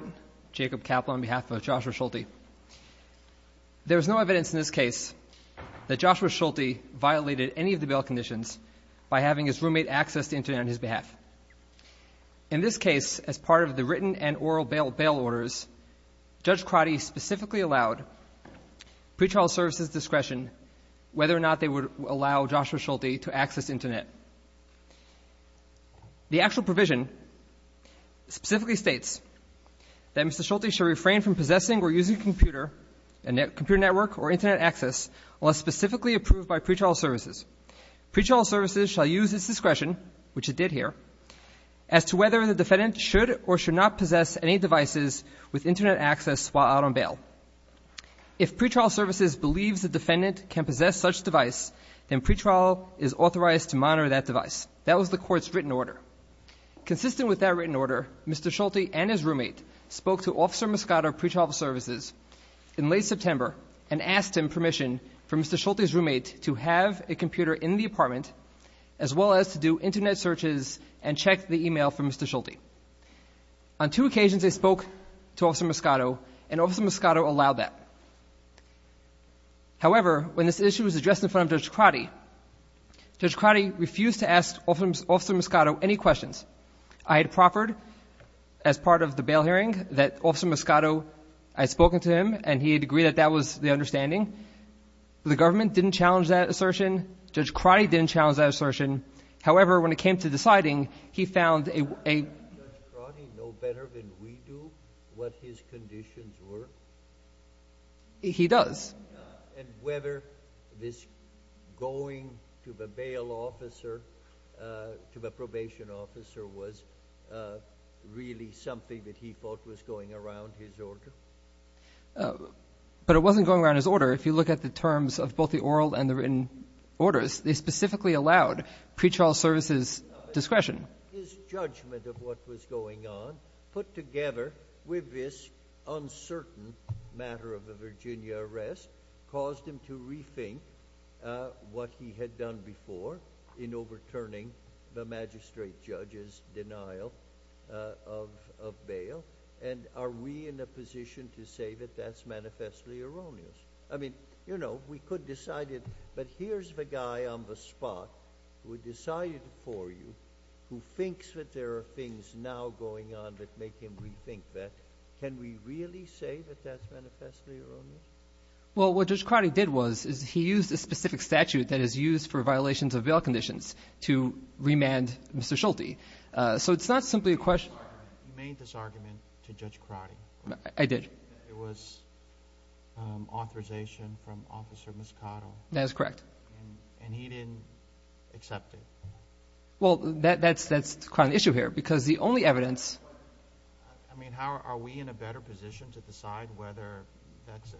on behalf of Joshua Schulte. There is no evidence in this case that Joshua Schulte violated any of the bail conditions by having his roommate access the internet on his behalf. In this case, as part of the written and oral bail orders, Judge Crotty specifically allowed pretrial services discretion whether or not they would allow Joshua Schulte to access the internet. The actual provision specifically states that Mr. Schulte shall refrain from possessing or using a computer network or internet access unless specifically approved by pretrial services. Pretrial services shall use its discretion, which it did here, as to whether the defendant should or should not possess any devices with internet access while out on bail. If pretrial services believes the defendant can possess such device, then pretrial is authorized to monitor that device. That was the court's written order. Consistent with that written order, Mr. Schulte and his roommate spoke to Officer Moscato of Pretrial Services in late September and asked him permission for Mr. Schulte's roommate to have a computer in the apartment as well as to do internet searches and check the email from Mr. Schulte. On two occasions, they spoke to Officer Moscato, and Officer Moscato allowed that. However, when this issue was addressed in front of Judge Crotty, Judge Crotty refused to ask Officer Moscato any questions. I had proffered as part of the bail hearing that Officer Moscato had spoken to him and he had agreed that that was the understanding. The government didn't challenge that assertion. Judge Crotty didn't challenge that assertion. However, when it came to deciding, he found a... Does Judge Crotty know better than we do what his conditions were? He does. And whether this going to the bail officer, to the probation officer, was really something that he thought was going around his order? But it wasn't going around his order. If you look at the terms of both the oral and the written orders, they specifically allowed Pretrial Services' discretion. His judgment of what was going on, put together with this uncertain matter of the Virginia arrest, caused him to rethink what he had done before in overturning the magistrate judge's denial of bail. And are we in a position to say that that's manifestly erroneous? I mean, you know, we could decide it, but here's the guy on the spot who decided it for you, who thinks that there are things now going on that make him rethink that. Can we really say that that's manifestly erroneous? Well, what Judge Crotty did was, is he used a specific statute that is used for violations of bail conditions to remand Mr. Schulte. So it's not simply a question... You made this argument to Judge Crotty. I did. It was authorization from Officer Moscato. That is correct. And he didn't accept it. Well, that's kind of the issue here, because the only evidence... I mean, are we in a better position to decide whether that's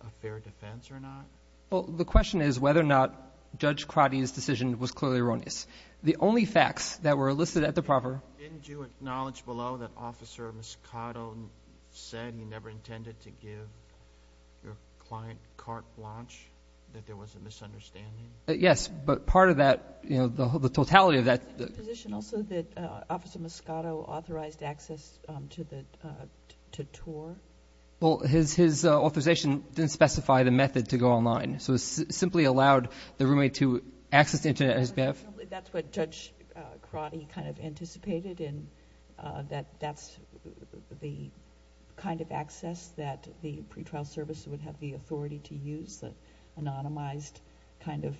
a fair defense or not? Well, the question is whether or not Judge Crotty's decision was clearly erroneous. The only facts that were listed at the proper... Didn't you acknowledge below that Officer Moscato said he never intended to give your client carte blanche, that there was a misunderstanding? Yes, but part of that, you know, the totality of that... Is it your position also that Officer Moscato authorized access to TOR? Well, his authorization didn't specify the method to go online. So it simply allowed the roommate to access the Internet at his behalf? That's what Judge Crotty kind of anticipated, and that that's the kind of access that the pretrial service would have the authority to use, the anonymized kind of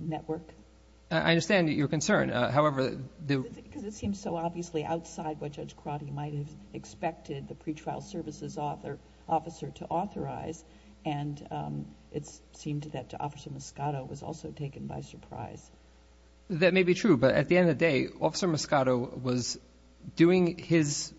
network. I understand your concern. However, the... Because it seems so obviously outside what Judge Crotty might have expected the pretrial services officer to authorize, and it seemed that Officer Moscato was also taken by surprise. That may be true, but at the end of the day, Officer Moscato was doing his...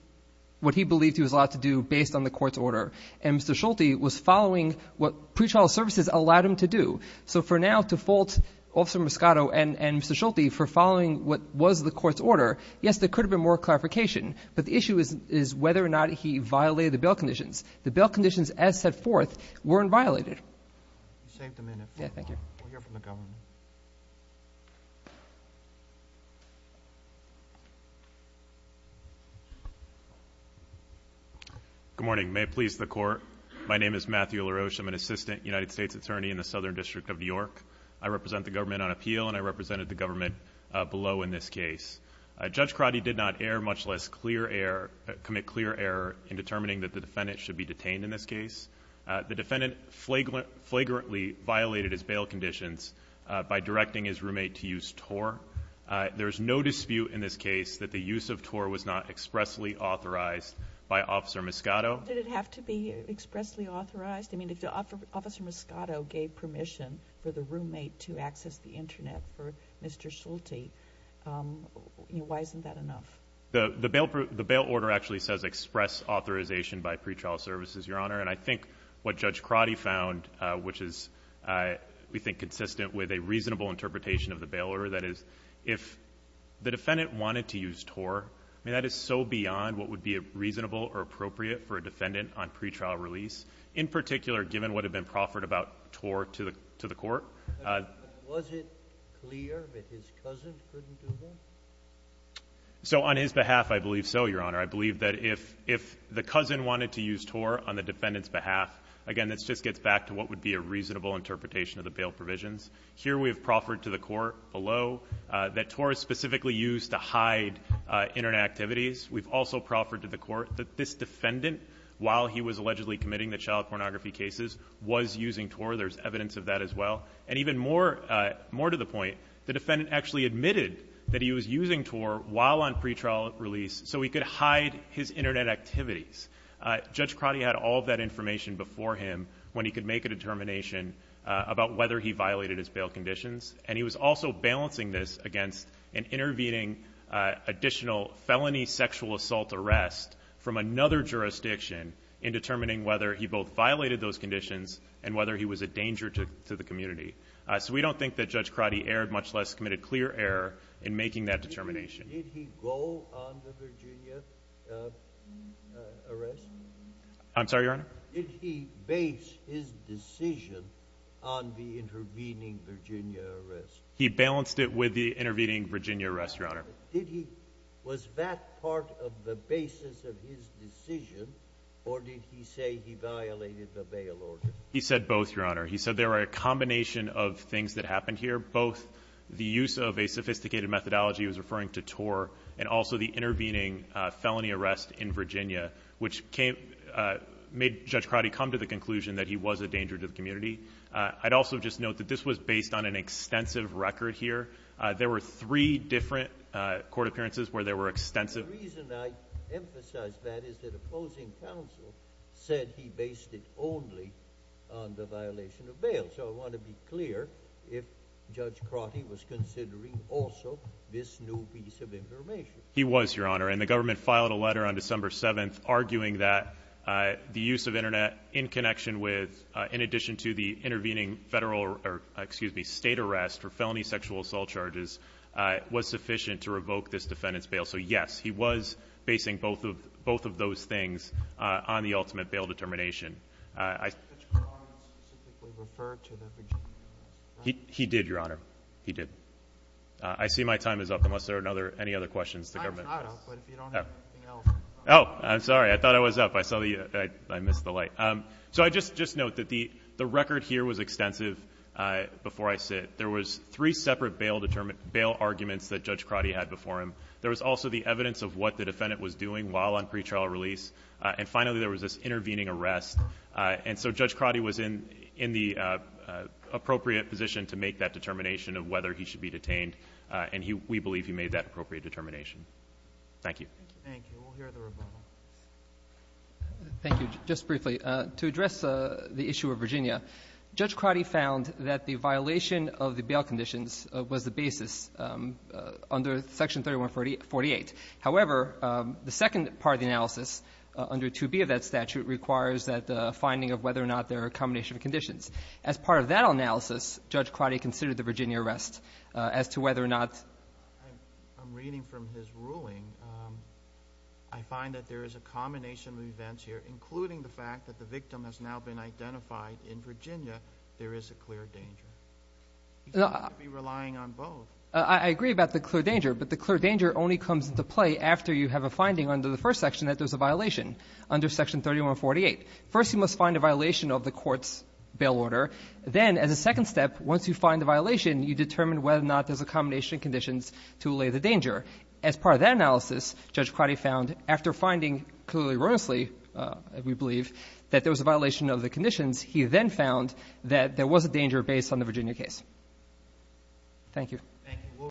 what he believed he was allowed to do based on the court's order, and Mr. Schulte was following what pretrial services allowed him to do. So for now, to fault Officer Moscato and Mr. Schulte for following what was the court's order, yes, there could have been more clarification, but the issue is whether or not he violated the bail conditions. The bail conditions, as set forth, weren't violated. You saved a minute. Yeah, thank you. We'll hear from the government. Good morning. May it please the Court. My name is Matthew LaRoche. in the Southern District of New York. I represent the government on appeal, and I represented the government below in this case. Judge Crotty did not err, much less clear error... commit clear error in determining that the defendant should be detained in this case. The defendant flagrantly violated his bail conditions by directing his roommate to use TOR. There is no dispute in this case that the use of TOR was not expressly authorized by Officer Moscato. Did it have to be expressly authorized? I mean, if Officer Moscato gave permission for the roommate to access the internet for Mr. Schulte, you know, why isn't that enough? The bail order actually says express authorization by pretrial services, Your Honor. And I think what Judge Crotty found, which is, we think, consistent with a reasonable interpretation of the bail order, that is, if the defendant wanted to use TOR, I mean, that is so beyond what would be reasonable or appropriate for a defendant on pretrial release. In particular, given what had been proffered about TOR to the court. Was it clear that his cousin couldn't do that? So, on his behalf, I believe so, Your Honor. I believe that if the cousin wanted to use TOR on the defendant's behalf, again, this just gets back to what would be a reasonable interpretation of the bail provisions. Here, we have proffered to the court below that TOR is specifically used to hide internet activities. We've also proffered to the court that this defendant, while he was allegedly committing the child pornography cases, was using TOR. There's evidence of that as well. And even more to the point, the defendant actually admitted that he was using TOR while on pretrial release so he could hide his internet activities. Judge Crotty had all of that information before him when he could make a determination about whether he violated his bail conditions. And he was also balancing this against an intervening additional felony sexual assault arrest from another jurisdiction in determining whether he both violated those conditions and whether he was a danger to the community. So we don't think that Judge Crotty erred, much less committed clear error in making that determination. Did he go on the Virginia arrest? I'm sorry, Your Honor? Did he base his decision on the intervening Virginia arrest? He balanced it with the intervening Virginia arrest, Your Honor. Was that part of the basis of his decision or did he say he violated the bail order? He said both, Your Honor. He said there are a combination of things that happened here, both the use of a sophisticated methodology he was referring to TOR and also the intervening felony arrest in Virginia which made Judge Crotty come to the conclusion that he was a danger to the community. I'd also just note that this was based on an extensive record here. There were three different court appearances where there were extensive. The reason I emphasize that is that opposing counsel said he based it only on the violation of bail. So I want to be clear if Judge Crotty was considering also this new piece of information. He was, Your Honor. And the government filed a letter on December 7th arguing that the use of internet in connection with, in addition to the intervening federal for felony sexual assault charges was sufficient to revoke this defendant's bail. So, yes, he was basing both of those things on the ultimate bail determination. Did Judge Crotty specifically refer to the Virginia case? He did, Your Honor. He did. I see my time is up unless there are any other questions the government has. Time is not up, but if you don't have anything else. Oh, I'm sorry. I thought I was up. I missed the light. So I'd just note that the record here was extensive before I sit. There was three separate bail arguments that Judge Crotty had before him. There was also the evidence of what the defendant was doing while on pretrial release. And finally, there was this intervening arrest. And so Judge Crotty was in the appropriate position to make that determination of whether he should be detained. And we believe he made that appropriate determination. Thank you. Thank you. We'll hear the rebuttal. Thank you. Just briefly, to address the issue of Virginia, Judge Crotty found that the violation of the bail conditions was the basis under Section 3148. However, the second part of the analysis under 2B of that statute requires that the finding of whether or not there are a combination of conditions. As part of that analysis, Judge Crotty considered the Virginia arrest as to whether or not I'm reading from his ruling. I find that there is a combination of events here, including the fact that the victim has now been identified in Virginia, there is a clear danger. He's not going to be relying on both. I agree about the clear danger, but the clear danger only comes into play after you have a finding under the first section that there's a violation under Section 3148. First, you must find a violation of the court's bail order. Then, as a second step, once you find a violation, you determine whether or not there's a combination of conditions to allay the danger. As part of that analysis, Judge Crotty found, after finding clearly erroneously, we believe, that there was a violation of the conditions, he then found that there was a danger based on the Virginia case. Thank you.